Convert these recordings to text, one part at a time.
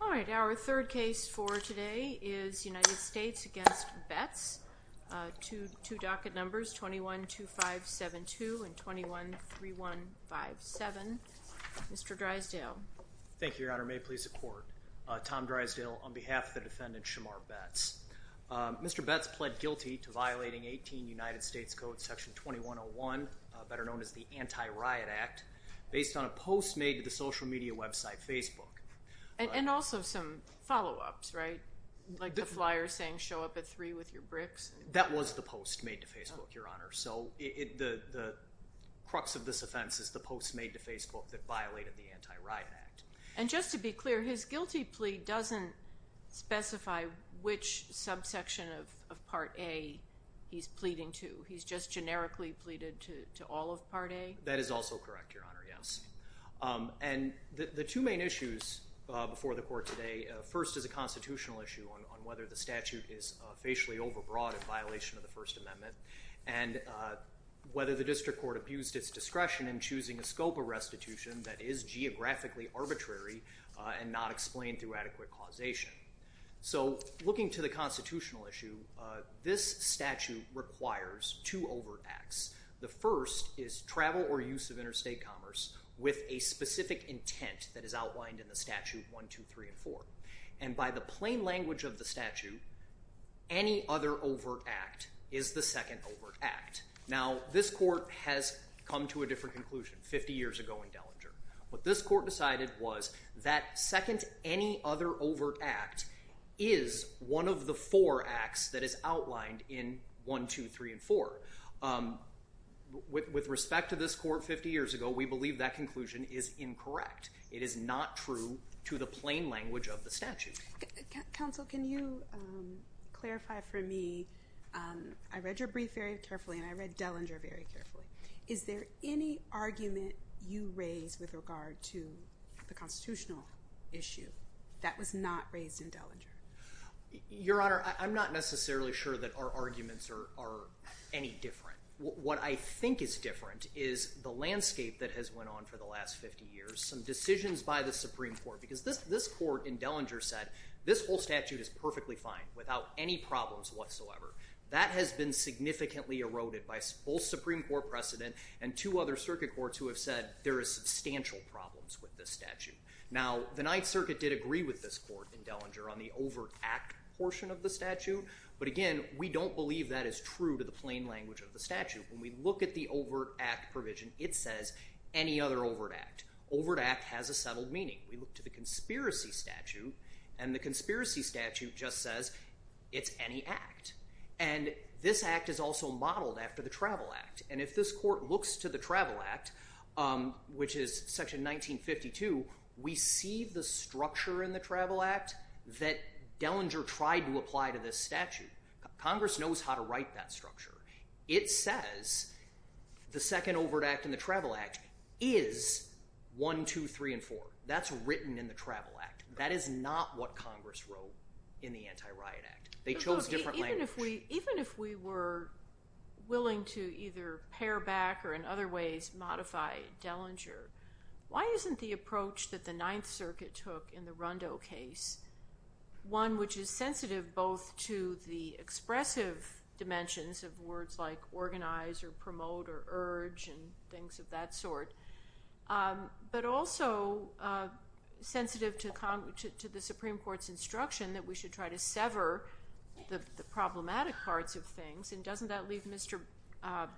Alright, our third case for today is United States v. Betts. Two docket numbers, 21-2572 and 21-3157. Mr. Drysdale. Thank you, Your Honor. May it please the Court. Tom Drysdale on behalf of the defendant, Shamar Betts. Mr. Betts pled guilty to violating 18 United States Code Section 2101, better known as the Anti-Riot Act, based on a post made to the social media website Facebook. And also some follow-ups, right? Like the flyer saying, show up at 3 with your bricks? That was the post made to Facebook, Your Honor. So the crux of this offense is the post made to Facebook that violated the Anti-Riot Act. And just to be clear, his guilty plea doesn't specify which subsection of Part A he's pleading to. He's just generically pleaded to all of Part A? That is also correct, Your Honor, yes. And the two main issues before the Court today, first is a constitutional issue on whether the statute is facially overbroad in violation of the First Amendment, and whether the district court abused its discretion in choosing a scope of restitution that is geographically arbitrary and not explained through adequate causation. So looking to the constitutional issue, this statute requires two overt acts. The first is travel or use of interstate commerce with a specific intent that is outlined in the statute 1, 2, 3, and 4. And by the plain language of the statute, any other overt act is the second overt act. Now, this Court has come to a different conclusion 50 years ago in Dellinger. What this Court decided was that second any other overt act is one of the four acts that is outlined in 1, 2, 3, and 4. With respect to this Court 50 years ago, we believe that conclusion is incorrect. It is not true to the plain language of the statute. Counsel, can you clarify for me? I read your brief very carefully, and I read Dellinger very carefully. Is there any argument you raised with regard to the constitutional issue that was not raised in Dellinger? Your Honor, I'm not necessarily sure that our arguments are any different. What I think is different is the landscape that has went on for the last 50 years, some decisions by the Supreme Court. Because this Court in Dellinger said this whole statute is perfectly fine without any problems whatsoever. That has been significantly eroded by both Supreme Court precedent and two other circuit courts who have said there are substantial problems with this statute. Now, the Ninth Circuit did agree with this Court in Dellinger on the overt act portion of the statute. But again, we don't believe that is true to the plain language of the statute. When we look at the overt act provision, it says any other overt act. Overt act has a settled meaning. We look to the conspiracy statute, and the conspiracy statute just says it's any act. And this act is also modeled after the Travel Act. And if this Court looks to the Travel Act, which is section 1952, we see the structure in the Travel Act that Dellinger tried to apply to this statute. Congress knows how to write that structure. It says the second overt act in the Travel Act is 1, 2, 3, and 4. That's written in the Travel Act. That is not what Congress wrote in the Anti-Riot Act. They chose different language. Even if we were willing to either pare back or in other ways modify Dellinger, why isn't the approach that the Ninth Circuit took in the Rondeau case, one which is sensitive both to the expressive dimensions of words like organize or promote or urge and things of that sort, but also sensitive to the Supreme Court's instruction that we should try to sever the problematic parts of things. And doesn't that leave Mr.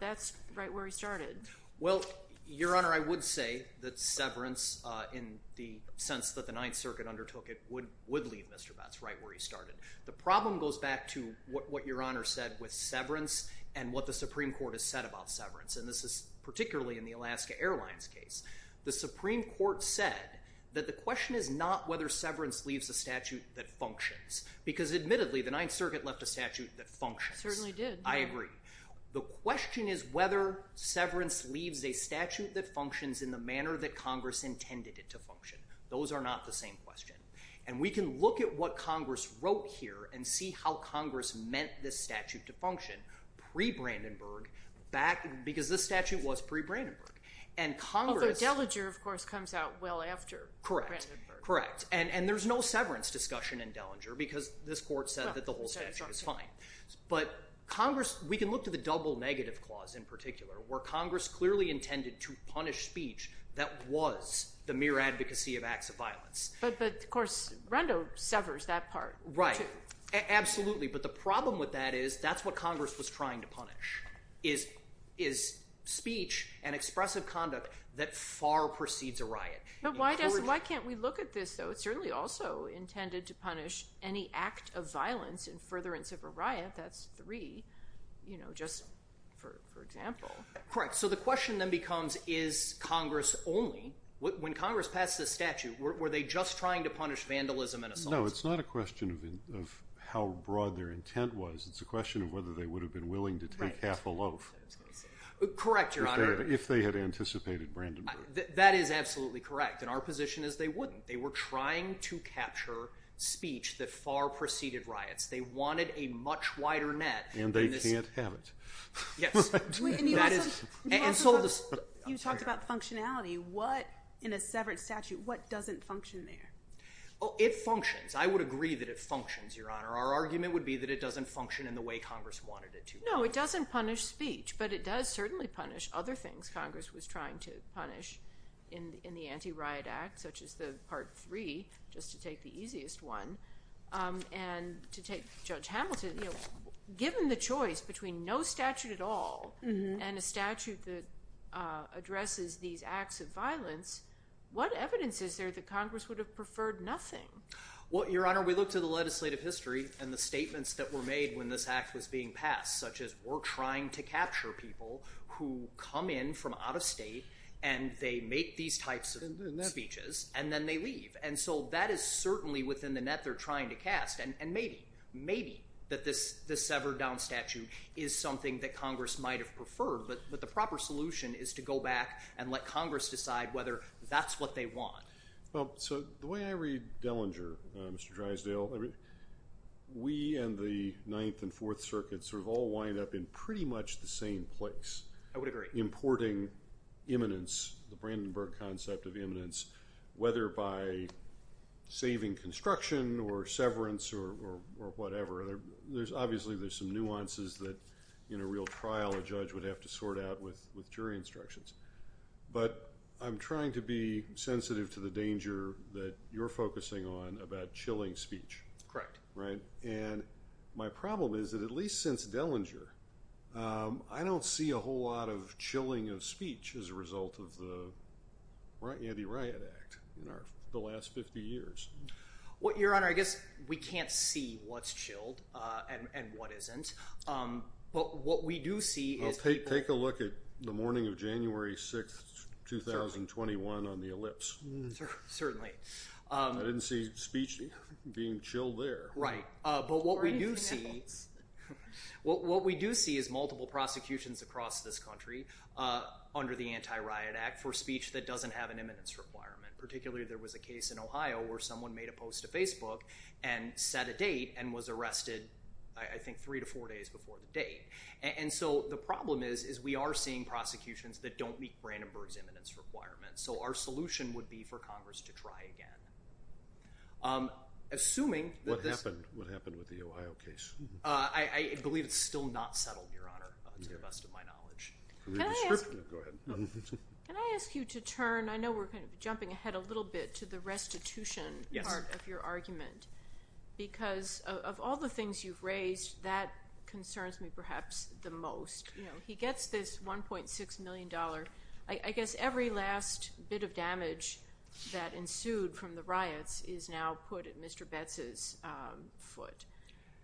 Betz right where he started? Well, Your Honor, I would say that severance in the sense that the Ninth Circuit undertook it would leave Mr. Betz right where he started. The problem goes back to what Your Honor said with severance and what the Supreme Court has said about severance. And this is particularly in the Alaska Airlines case. The Supreme Court said that the question is not whether severance leaves a statute that functions. Because admittedly the Ninth Circuit left a statute that functions. It certainly did. I agree. The question is whether severance leaves a statute that functions in the manner that Congress intended it to function. Those are not the same question. And we can look at what Congress wrote here and see how Congress meant this statute to function pre-Brandenburg because this statute was pre-Brandenburg. Although Dellinger, of course, comes out well after Brandenburg. Correct. And there's no severance discussion in Dellinger because this Court said that the whole statute is fine. But we can look to the double negative clause in particular where Congress clearly intended to punish speech that was the mere advocacy of acts of violence. But, of course, Rondo severs that part. Right. Absolutely. But the problem with that is that's what Congress was trying to punish is speech and expressive conduct that far precedes a riot. But why can't we look at this, though? It certainly also intended to punish any act of violence in furtherance of a riot. That's three, you know, just for example. Correct. So the question then becomes is Congress only, when Congress passed this statute, were they just trying to punish vandalism and assaults? No, it's not a question of how broad their intent was. It's a question of whether they would have been willing to take half a loaf. Correct, Your Honor. If they had anticipated Brandenburg. That is absolutely correct. And our position is they wouldn't. They were trying to capture speech that far preceded riots. They wanted a much wider net. And they can't have it. Yes. And you also talked about functionality. In a severance statute, what doesn't function there? Oh, it functions. I would agree that it functions, Your Honor. Our argument would be that it doesn't function in the way Congress wanted it to. No, it doesn't punish speech. But it does certainly punish other things Congress was trying to punish in the Anti-Riot Act, such as the Part 3, just to take the easiest one. And to take Judge Hamilton, given the choice between no statute at all and a statute that addresses these acts of violence, what evidence is there that Congress would have preferred nothing? Well, Your Honor, we looked at the legislative history and the statements that were made when this act was being passed, such as we're trying to capture people who come in from out of state, and they make these types of speeches, and then they leave. And so that is certainly within the net they're trying to cast. And maybe, maybe that this severed down statute is something that Congress might have preferred. But the proper solution is to go back and let Congress decide whether that's what they want. Well, so the way I read Dellinger, Mr. Drysdale, we and the Ninth and Fourth Circuits sort of all wind up in pretty much the same place. I would agree. Importing imminence, the Brandenburg concept of imminence, whether by saving construction or severance or whatever, obviously there's some nuances that in a real trial a judge would have to sort out with jury instructions. But I'm trying to be sensitive to the danger that you're focusing on about chilling speech. Correct. And my problem is that at least since Dellinger, I don't see a whole lot of chilling of speech as a result of the anti-riot act in the last 50 years. Well, Your Honor, I guess we can't see what's chilled and what isn't. But what we do see is people— Well, take a look at the morning of January 6th, 2021 on the Ellipse. Certainly. I didn't see speech being chilled there. Right. But what we do see is multiple prosecutions across this country under the anti-riot act for speech that doesn't have an imminence requirement. Particularly, there was a case in Ohio where someone made a post to Facebook and set a date and was arrested, I think, three to four days before the date. And so the problem is we are seeing prosecutions that don't meet Brandenburg's imminence requirements. So our solution would be for Congress to try again. Assuming that this— What happened? What happened with the Ohio case? I believe it's still not settled, Your Honor, to the best of my knowledge. Go ahead. Can I ask you to turn—I know we're kind of jumping ahead a little bit to the restitution part of your argument. Yes. Because of all the things you've raised, that concerns me perhaps the most. He gets this $1.6 million. I guess every last bit of damage that ensued from the riots is now put at Mr. Betz's foot.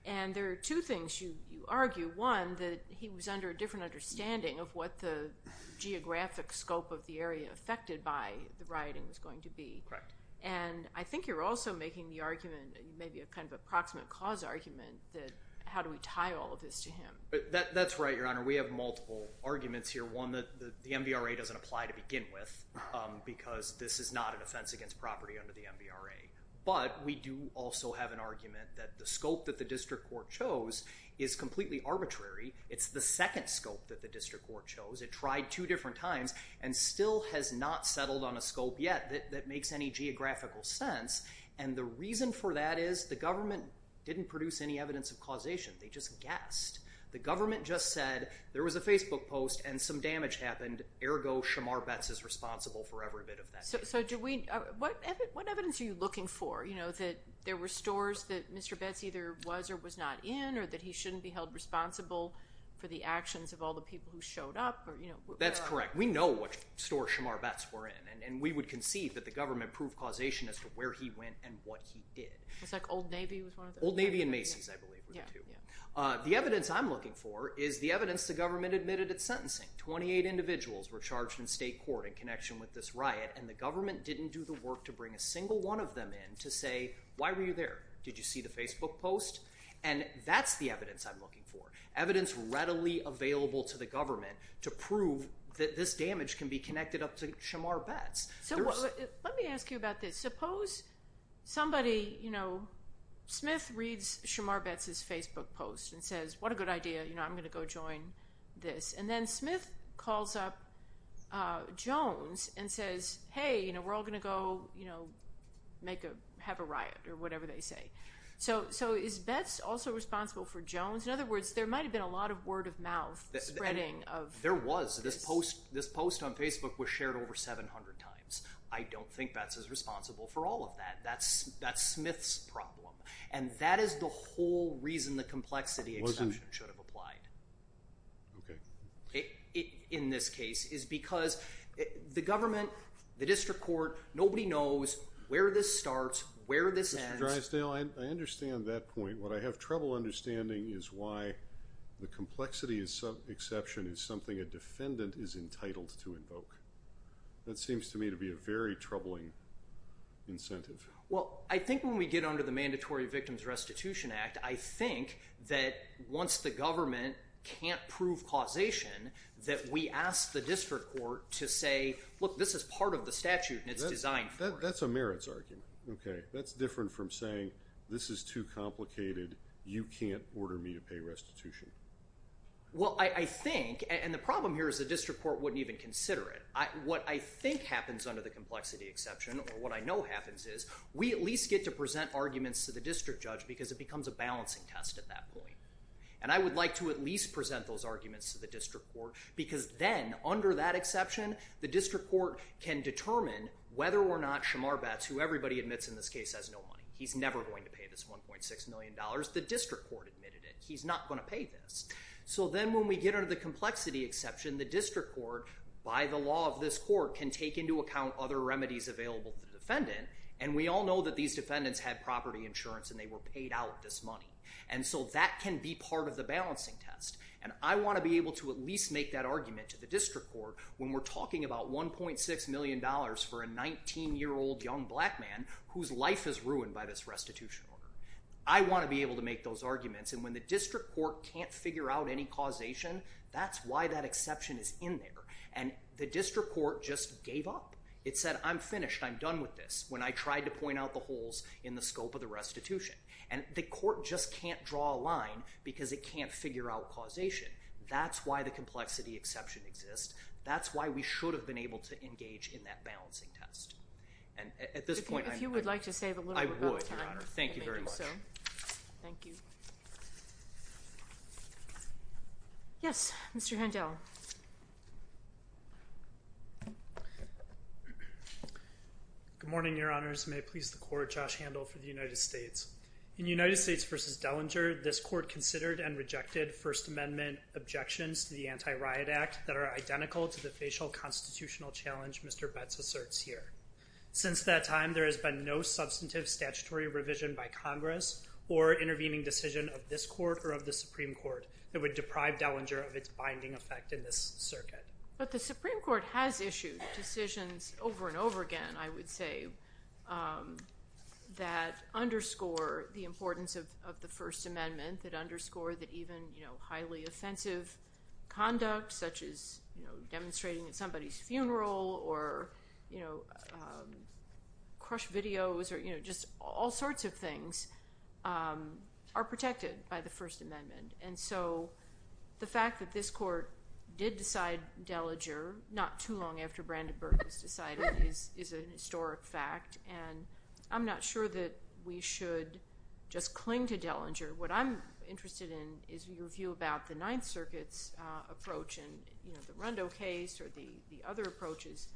And there are two things you argue. One, that he was under a different understanding of what the geographic scope of the area affected by the rioting was going to be. Correct. And I think you're also making the argument, maybe a kind of approximate cause argument, that how do we tie all of this to him? That's right, Your Honor. We have multiple arguments here. One, that the MVRA doesn't apply to begin with because this is not an offense against property under the MVRA. But we do also have an argument that the scope that the district court chose is completely arbitrary. It's the second scope that the district court chose. It tried two different times and still has not settled on a scope yet that makes any geographical sense. And the reason for that is the government didn't produce any evidence of causation. They just guessed. The government just said there was a Facebook post and some damage happened. Ergo, Shamar Betz is responsible for every bit of that. So what evidence are you looking for? That there were stores that Mr. Betz either was or was not in or that he shouldn't be held responsible for the actions of all the people who showed up? That's correct. We know which store Shamar Betz were in. And we would concede that the government proved causation as to where he went and what he did. Was that Old Navy was one of them? Old Navy and Macy's, I believe, were the two. The evidence I'm looking for is the evidence the government admitted at sentencing. Twenty-eight individuals were charged in state court in connection with this riot, and the government didn't do the work to bring a single one of them in to say, Why were you there? Did you see the Facebook post? And that's the evidence I'm looking for, evidence readily available to the government to prove that this damage can be connected up to Shamar Betz. So let me ask you about this. Suppose somebody, you know, Smith reads Shamar Betz's Facebook post and says, What a good idea. I'm going to go join this. And then Smith calls up Jones and says, Hey, we're all going to go have a riot or whatever they say. So is Betz also responsible for Jones? In other words, there might have been a lot of word of mouth spreading of this. There was. This post on Facebook was shared over 700 times. I don't think Betz is responsible for all of that. That's Smith's problem. And that is the whole reason the complexity exception should have applied. Okay. In this case, is because the government, the district court, nobody knows where this starts, where this ends. Mr. Drysdale, I understand that point. What I have trouble understanding is why the complexity exception is something a defendant is entitled to invoke. That seems to me to be a very troubling incentive. Well, I think when we get under the Mandatory Victims Restitution Act, I think that once the government can't prove causation, that we ask the district court to say, Look, this is part of the statute and it's designed for it. That's a merits argument. Okay. That's different from saying, This is too complicated. You can't order me to pay restitution. Well, I think, and the problem here is the district court wouldn't even consider it. What I think happens under the complexity exception, or what I know happens is, we at least get to present arguments to the district judge because it becomes a balancing test at that point. And I would like to at least present those arguments to the district court because then, under that exception, the district court can determine whether or not Shamar Betz, who everybody admits in this case has no money, he's never going to pay this $1.6 million, the district court admitted it. He's not going to pay this. So then when we get under the complexity exception, the district court, by the law of this court, can take into account other remedies available to the defendant. And we all know that these defendants had property insurance and they were paid out this money. And so that can be part of the balancing test. And I want to be able to at least make that argument to the district court when we're talking about $1.6 million for a 19-year-old young black man whose life is ruined by this restitution order. I want to be able to make those arguments. And when the district court can't figure out any causation, that's why that exception is in there. And the district court just gave up. It said, I'm finished. I'm done with this when I tried to point out the holes in the scope of the restitution. And the court just can't draw a line because it can't figure out causation. That's why the complexity exception exists. That's why we should have been able to engage in that balancing test. And at this point, I'm— If you would like to save a little bit of time. I would, Your Honor. Thank you very much. You're welcome. Thank you. Yes, Mr. Handel. Good morning, Your Honors. May it please the Court, Josh Handel for the United States. In United States v. Dellinger, this Court considered and rejected First Amendment objections to the Anti-Riot Act that are identical to the facial constitutional challenge Mr. Betz asserts here. Since that time, there has been no substantive statutory revision by Congress or intervening decision of this Court or of the Supreme Court that would deprive Dellinger of its binding effect in this circuit. But the Supreme Court has issued decisions over and over again, I would say, that underscore the importance of the First Amendment, that underscore that even highly offensive conduct, such as demonstrating at somebody's funeral or crushed videos or just all sorts of things are protected by the First Amendment. And so the fact that this Court did decide Dellinger not too long after Brandenburg was decided is a historic fact. And I'm not sure that we should just cling to Dellinger. What I'm interested in is your view about the Ninth Circuit's approach and, you know, the Rondo case or the other approaches.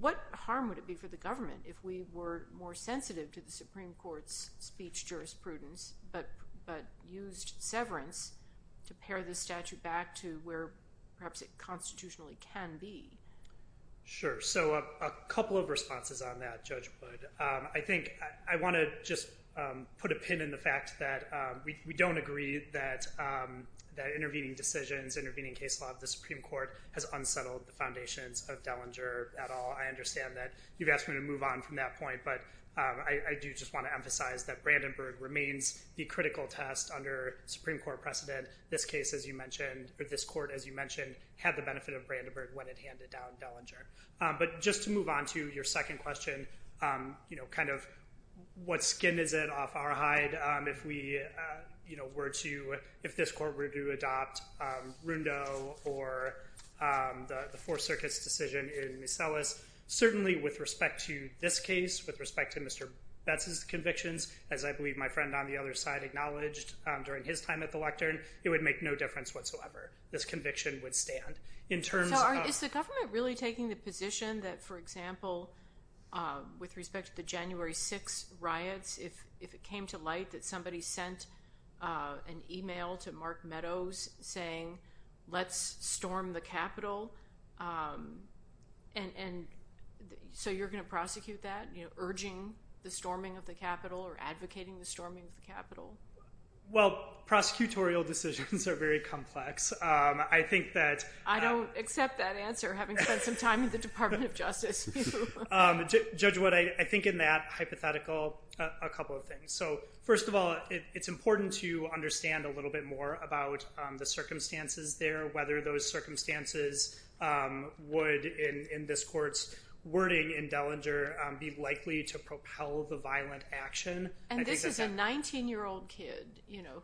What harm would it be for the government if we were more sensitive to the Supreme Court's speech jurisprudence but used severance to pare this statute back to where perhaps it constitutionally can be? Sure. So a couple of responses on that, Judge Budd. I think I want to just put a pin in the fact that we don't agree that intervening decisions, intervening case law of the Supreme Court has unsettled the foundations of Dellinger at all. I understand that you've asked me to move on from that point, but I do just want to emphasize that Brandenburg remains the critical test under Supreme Court precedent. This case, as you mentioned, or this Court, as you mentioned, had the benefit of Brandenburg when it handed down Dellinger. But just to move on to your second question, you know, kind of what skin is it off our hide if we, you know, were to, if this Court were to adopt Rondo or the Fourth Circuit's decision in Miscellus, certainly with respect to this case, with respect to Mr. Betz's convictions, as I believe my friend on the other side acknowledged during his time at the lectern, it would make no difference whatsoever. This conviction would stand. So is the government really taking the position that, for example, with respect to the January 6th riots, if it came to light that somebody sent an email to Mark Meadows saying, let's storm the Capitol, and so you're going to prosecute that, urging the storming of the Capitol or advocating the storming of the Capitol? Well, prosecutorial decisions are very complex. I think that- I don't accept that answer, having spent some time in the Department of Justice. Judge Wood, I think in that hypothetical, a couple of things. So first of all, it's important to understand a little bit more about the circumstances there, whether those circumstances would, in this Court's wording in Dellinger, be likely to propel the violent action. And this is a 19-year-old kid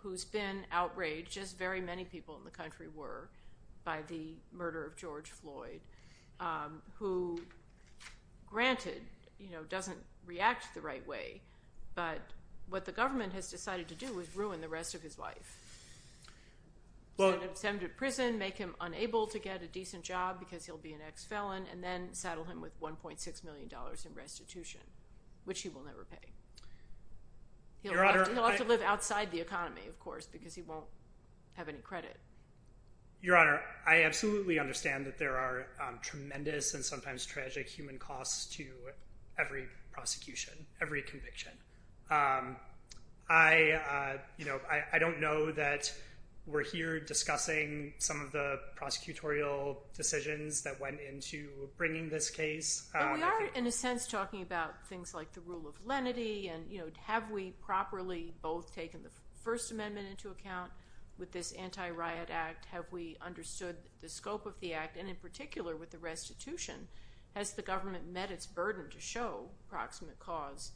who's been outraged, as very many people in the country were, by the murder of George Floyd, who, granted, doesn't react the right way, but what the government has decided to do is ruin the rest of his life, send him to prison, make him unable to get a decent job because he'll be an ex-felon, and then saddle him with $1.6 million in restitution, which he will never pay. He'll have to live outside the economy, of course, because he won't have any credit. Your Honor, I absolutely understand that there are tremendous and sometimes tragic human costs to every prosecution, every conviction. I don't know that we're here discussing some of the prosecutorial decisions that went into bringing this case. But we are, in a sense, talking about things like the rule of lenity, and have we properly both taken the First Amendment into account with this anti-riot act? Have we understood the scope of the act? And, in particular, with the restitution, has the government met its burden to show proximate cause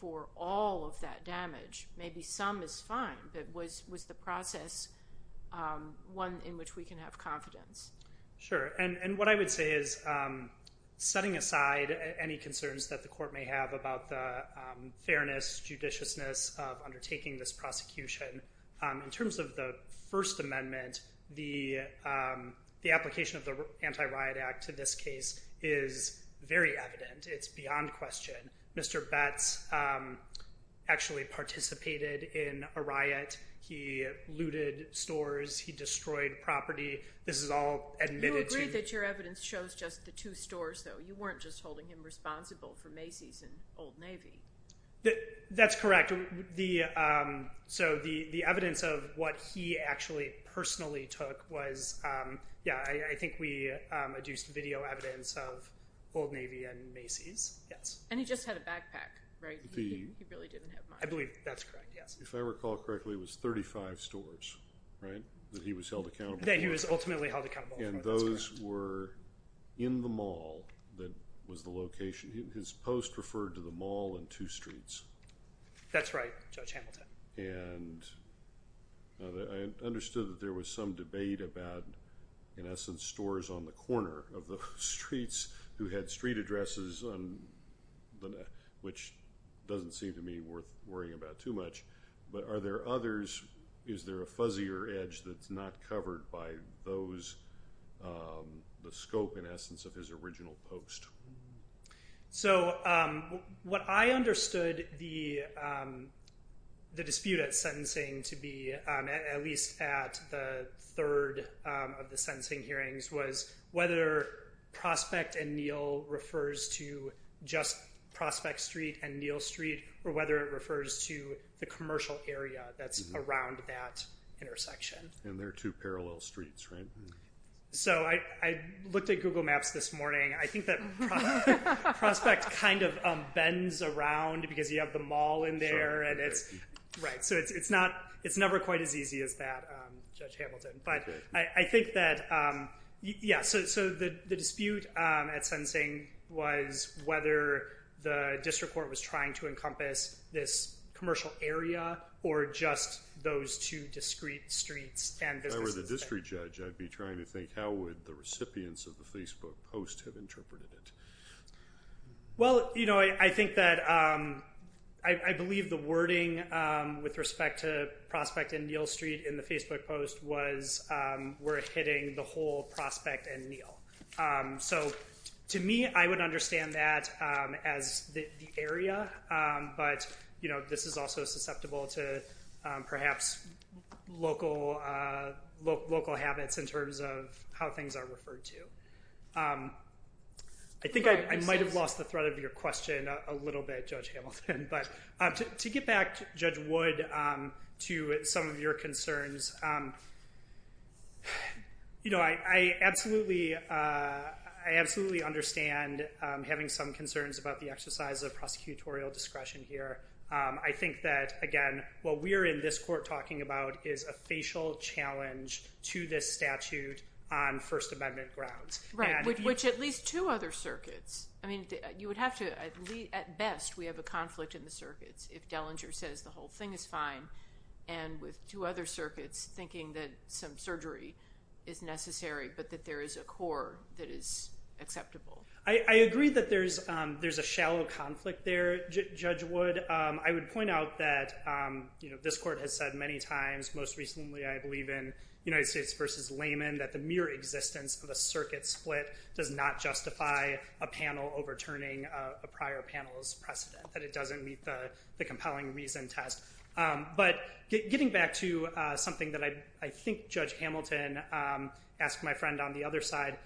for all of that damage? Maybe some is fine, but was the process one in which we can have confidence? Sure. And what I would say is, setting aside any concerns that the court may have about the fairness, judiciousness of undertaking this prosecution, in terms of the First Amendment, the application of the anti-riot act to this case is very evident. It's beyond question. Mr. Betz actually participated in a riot. He looted stores. He destroyed property. This is all admitted to. You agreed that your evidence shows just the two stores, though. You weren't just holding him responsible for Macy's and Old Navy. That's correct. So the evidence of what he actually personally took was, yeah, I think we adduced video evidence of Old Navy and Macy's, yes. And he just had a backpack, right? He really didn't have much. I believe that's correct, yes. If I recall correctly, it was 35 stores, right, that he was held accountable for. That he was ultimately held accountable for, that's correct. And those were in the mall that was the location. His post referred to the mall and two streets. That's right, Judge Hamilton. And I understood that there was some debate about, in essence, stores on the corner of the streets who had street addresses, which doesn't seem to me worth worrying about too much. But are there others, is there a fuzzier edge that's not covered by those, the scope, in essence, of his original post? So what I understood the dispute at sentencing to be, at least at the third of the sentencing hearings, was whether Prospect and Neal refers to just Prospect Street and Neal Street, or whether it refers to the commercial area that's around that intersection. And they're two parallel streets, right? So I looked at Google Maps this morning. I think that Prospect kind of bends around because you have the mall in there. So it's never quite as easy as that, Judge Hamilton. But I think that, yeah, so the dispute at sentencing was whether the district court was trying to encompass this commercial area or just those two discrete streets and businesses. If I were the district judge, I'd be trying to think how would the recipients of the Facebook post have interpreted it. Well, you know, I think that I believe the wording with respect to Prospect and Neal Street in the Facebook post was we're hitting the whole Prospect and Neal. So to me, I would understand that as the area, but, you know, this is also susceptible to perhaps local habits in terms of how things are referred to. I think I might have lost the thread of your question a little bit, Judge Hamilton. But to get back, Judge Wood, to some of your concerns, you know, I absolutely understand having some concerns about the exercise of prosecutorial discretion here. I think that, again, what we're in this court talking about is a facial challenge to this statute on First Amendment grounds. Right, which at least two other circuits, I mean, you would have to, at best, we have a conflict in the circuits if Dellinger says the whole thing is fine and with two other circuits thinking that some surgery is necessary but that there is a core that is acceptable. I agree that there's a shallow conflict there, Judge Wood. I would point out that, you know, this court has said many times, most recently I believe in United States v. Lehman, that the mere existence of a circuit split does not justify a panel overturning a prior panel's precedent, that it doesn't meet the compelling reason test. But getting back to something that I think Judge Hamilton asked my friend on the other side,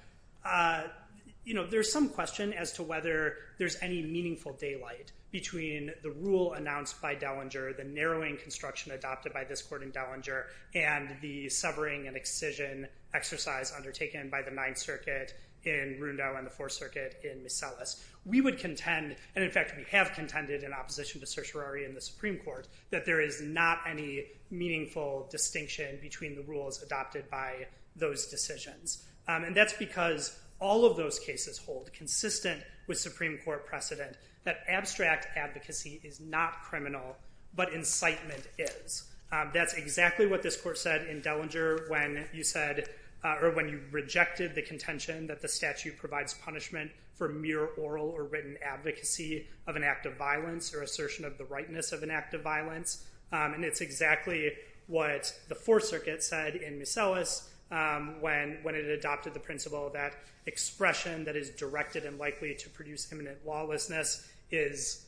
you know, there's some question as to whether there's any meaningful daylight between the rule announced by Dellinger, the narrowing construction adopted by this court in Dellinger, and the severing and excision exercise undertaken by the Ninth Circuit in Rundeau and the Fourth Circuit in Miscellus. We would contend, and in fact we have contended in opposition to certiorari in the Supreme Court, that there is not any meaningful distinction between the rules adopted by those decisions. And that's because all of those cases hold consistent with Supreme Court precedent that abstract advocacy is not criminal, but incitement is. That's exactly what this court said in Dellinger when you said, or when you rejected the contention that the statute provides punishment for mere oral or written advocacy of an act of violence or assertion of the rightness of an act of violence. And it's exactly what the Fourth Circuit said in Miscellus when it adopted the principle that expression that is directed and likely to produce imminent lawlessness is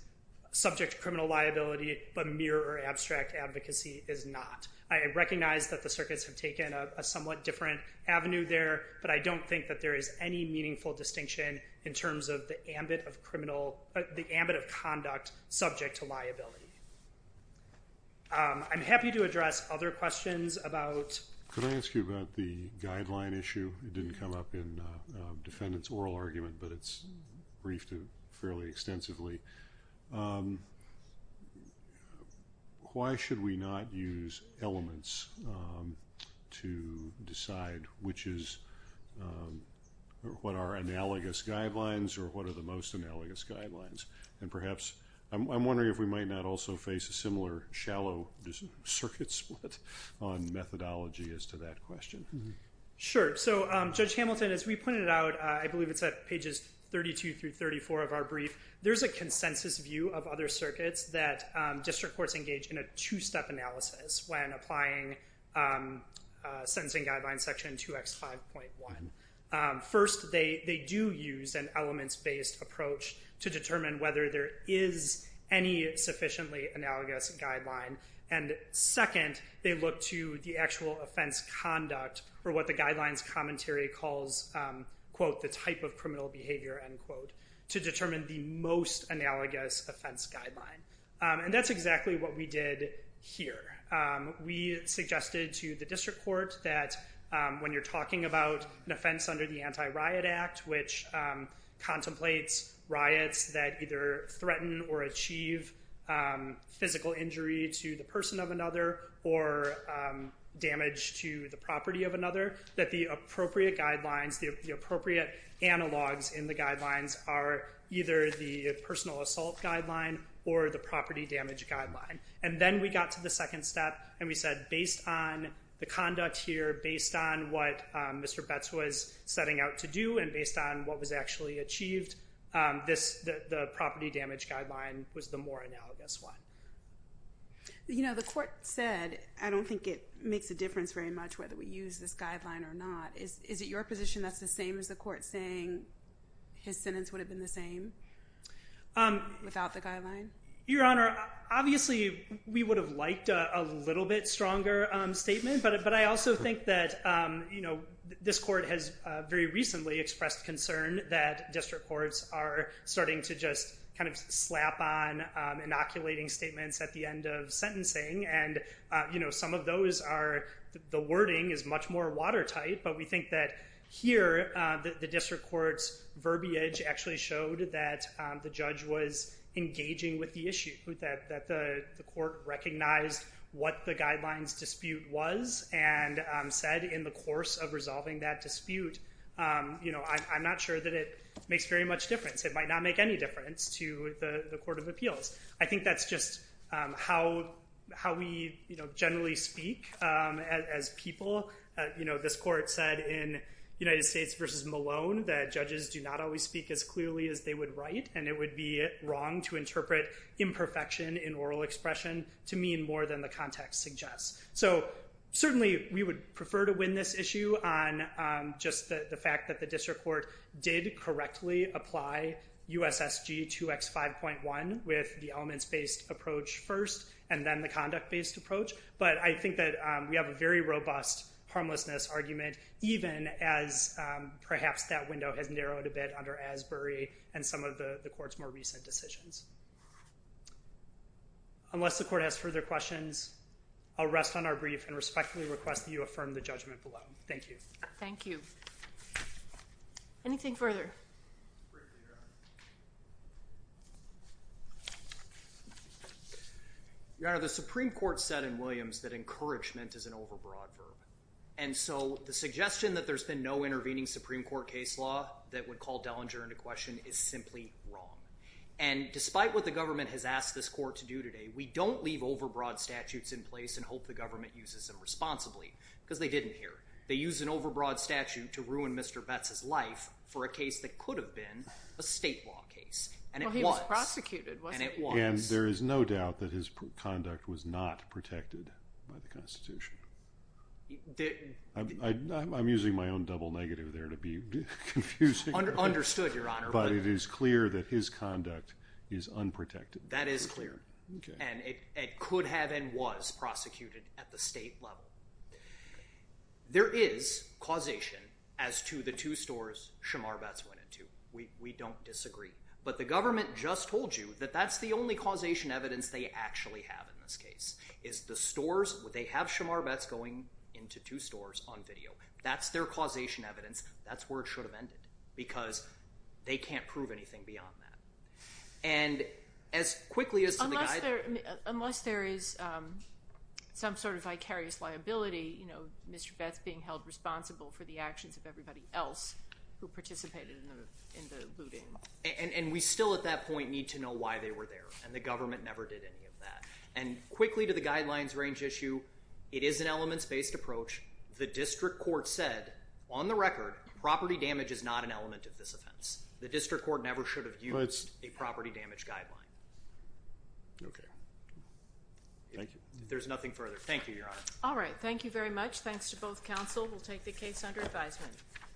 subject to criminal liability, but mere or abstract advocacy is not. I recognize that the circuits have taken a somewhat different avenue there, but I don't think that there is any meaningful distinction in terms of the ambit of conduct subject to liability. I'm happy to address other questions about... Why should we not use elements to decide what are analogous guidelines or what are the most analogous guidelines? And perhaps, I'm wondering if we might not also face a similar shallow circuit split on methodology as to that question. Sure. So, Judge Hamilton, as we pointed out, I believe it's at pages 32 through 34 of our brief, there's a consensus view of other circuits that district courts engage in a two-step analysis when applying sentencing guidelines section 2X5.1. First, they do use an elements-based approach to determine whether there is any sufficiently analogous guideline. And second, they look to the actual offense conduct or what the guidelines commentary calls, quote, the type of criminal behavior, end quote, to determine the most analogous offense guideline. And that's exactly what we did here. We suggested to the district court that when you're talking about an offense under the Anti-Riot Act, which contemplates riots that either threaten or achieve physical injury to the person of another or damage to the property of another, that the appropriate guidelines, the appropriate analogs in the guidelines are either the personal assault guideline or the property damage guideline. And then we got to the second step and we said, based on the conduct here, based on what Mr. Betz was setting out to do, and based on what was actually achieved, the property damage guideline was the more analogous one. You know, the court said, I don't think it makes a difference very much whether we use this guideline or not. Is it your position that's the same as the court saying his sentence would have been the same without the guideline? Your Honor, obviously, we would have liked a little bit stronger statement. But I also think that, you know, this court has very recently expressed concern that district courts are starting to just kind of slap on inoculating statements at the end of sentencing. And, you know, some of those are the wording is much more watertight. But we think that here the district court's verbiage actually showed that the judge was engaging with the issue, that the court recognized what the guidelines dispute was and said in the course of resolving that dispute, you know, I'm not sure that it makes very much difference. It might not make any difference to the Court of Appeals. I think that's just how we generally speak as people. You know, this court said in United States v. Malone that judges do not always speak as clearly as they would write. And it would be wrong to interpret imperfection in oral expression to mean more than the context suggests. So certainly we would prefer to win this issue on just the fact that the district court did correctly apply USSG 2X5.1 with the elements-based approach first and then the conduct-based approach. But I think that we have a very robust harmlessness argument even as perhaps that window has narrowed a bit under Asbury and some of the court's more recent decisions. Unless the court has further questions, I'll rest on our brief and respectfully request that you affirm the judgment below. Thank you. Thank you. Anything further? Your Honor, the Supreme Court said in Williams that encouragement is an overbroad verb. And so the suggestion that there's been no intervening Supreme Court case law that would call Dellinger into question is simply wrong. And despite what the government has asked this court to do today, we don't leave overbroad statutes in place and hope the government uses them responsibly because they didn't here. They use an overbroad statute to ruin Mr. Betz's life for a case that could have been a state law case. And it was. Well, he was prosecuted, wasn't he? And it was. And there is no doubt that his conduct was not protected by the Constitution. I'm using my own double negative there to be confusing. Understood, Your Honor. But it is clear that his conduct is unprotected. That is clear. And it could have and was prosecuted at the state level. There is causation as to the two stores Shamar Betz went into. We don't disagree. But the government just told you that that's the only causation evidence they actually have in this case is the stores. They have Shamar Betz going into two stores on video. That's their causation evidence. That's where it should have ended because they can't prove anything beyond that. Unless there is some sort of vicarious liability, Mr. Betz being held responsible for the actions of everybody else who participated in the looting. And we still, at that point, need to know why they were there. And the government never did any of that. And quickly to the guidelines range issue, it is an elements-based approach. The district court said, on the record, property damage is not an element of this offense. The district court never should have used a property damage guideline. Okay. Thank you. There's nothing further. Thank you, Your Honor. All right. Thank you very much. Thanks to both counsel. We'll take the case under advisement.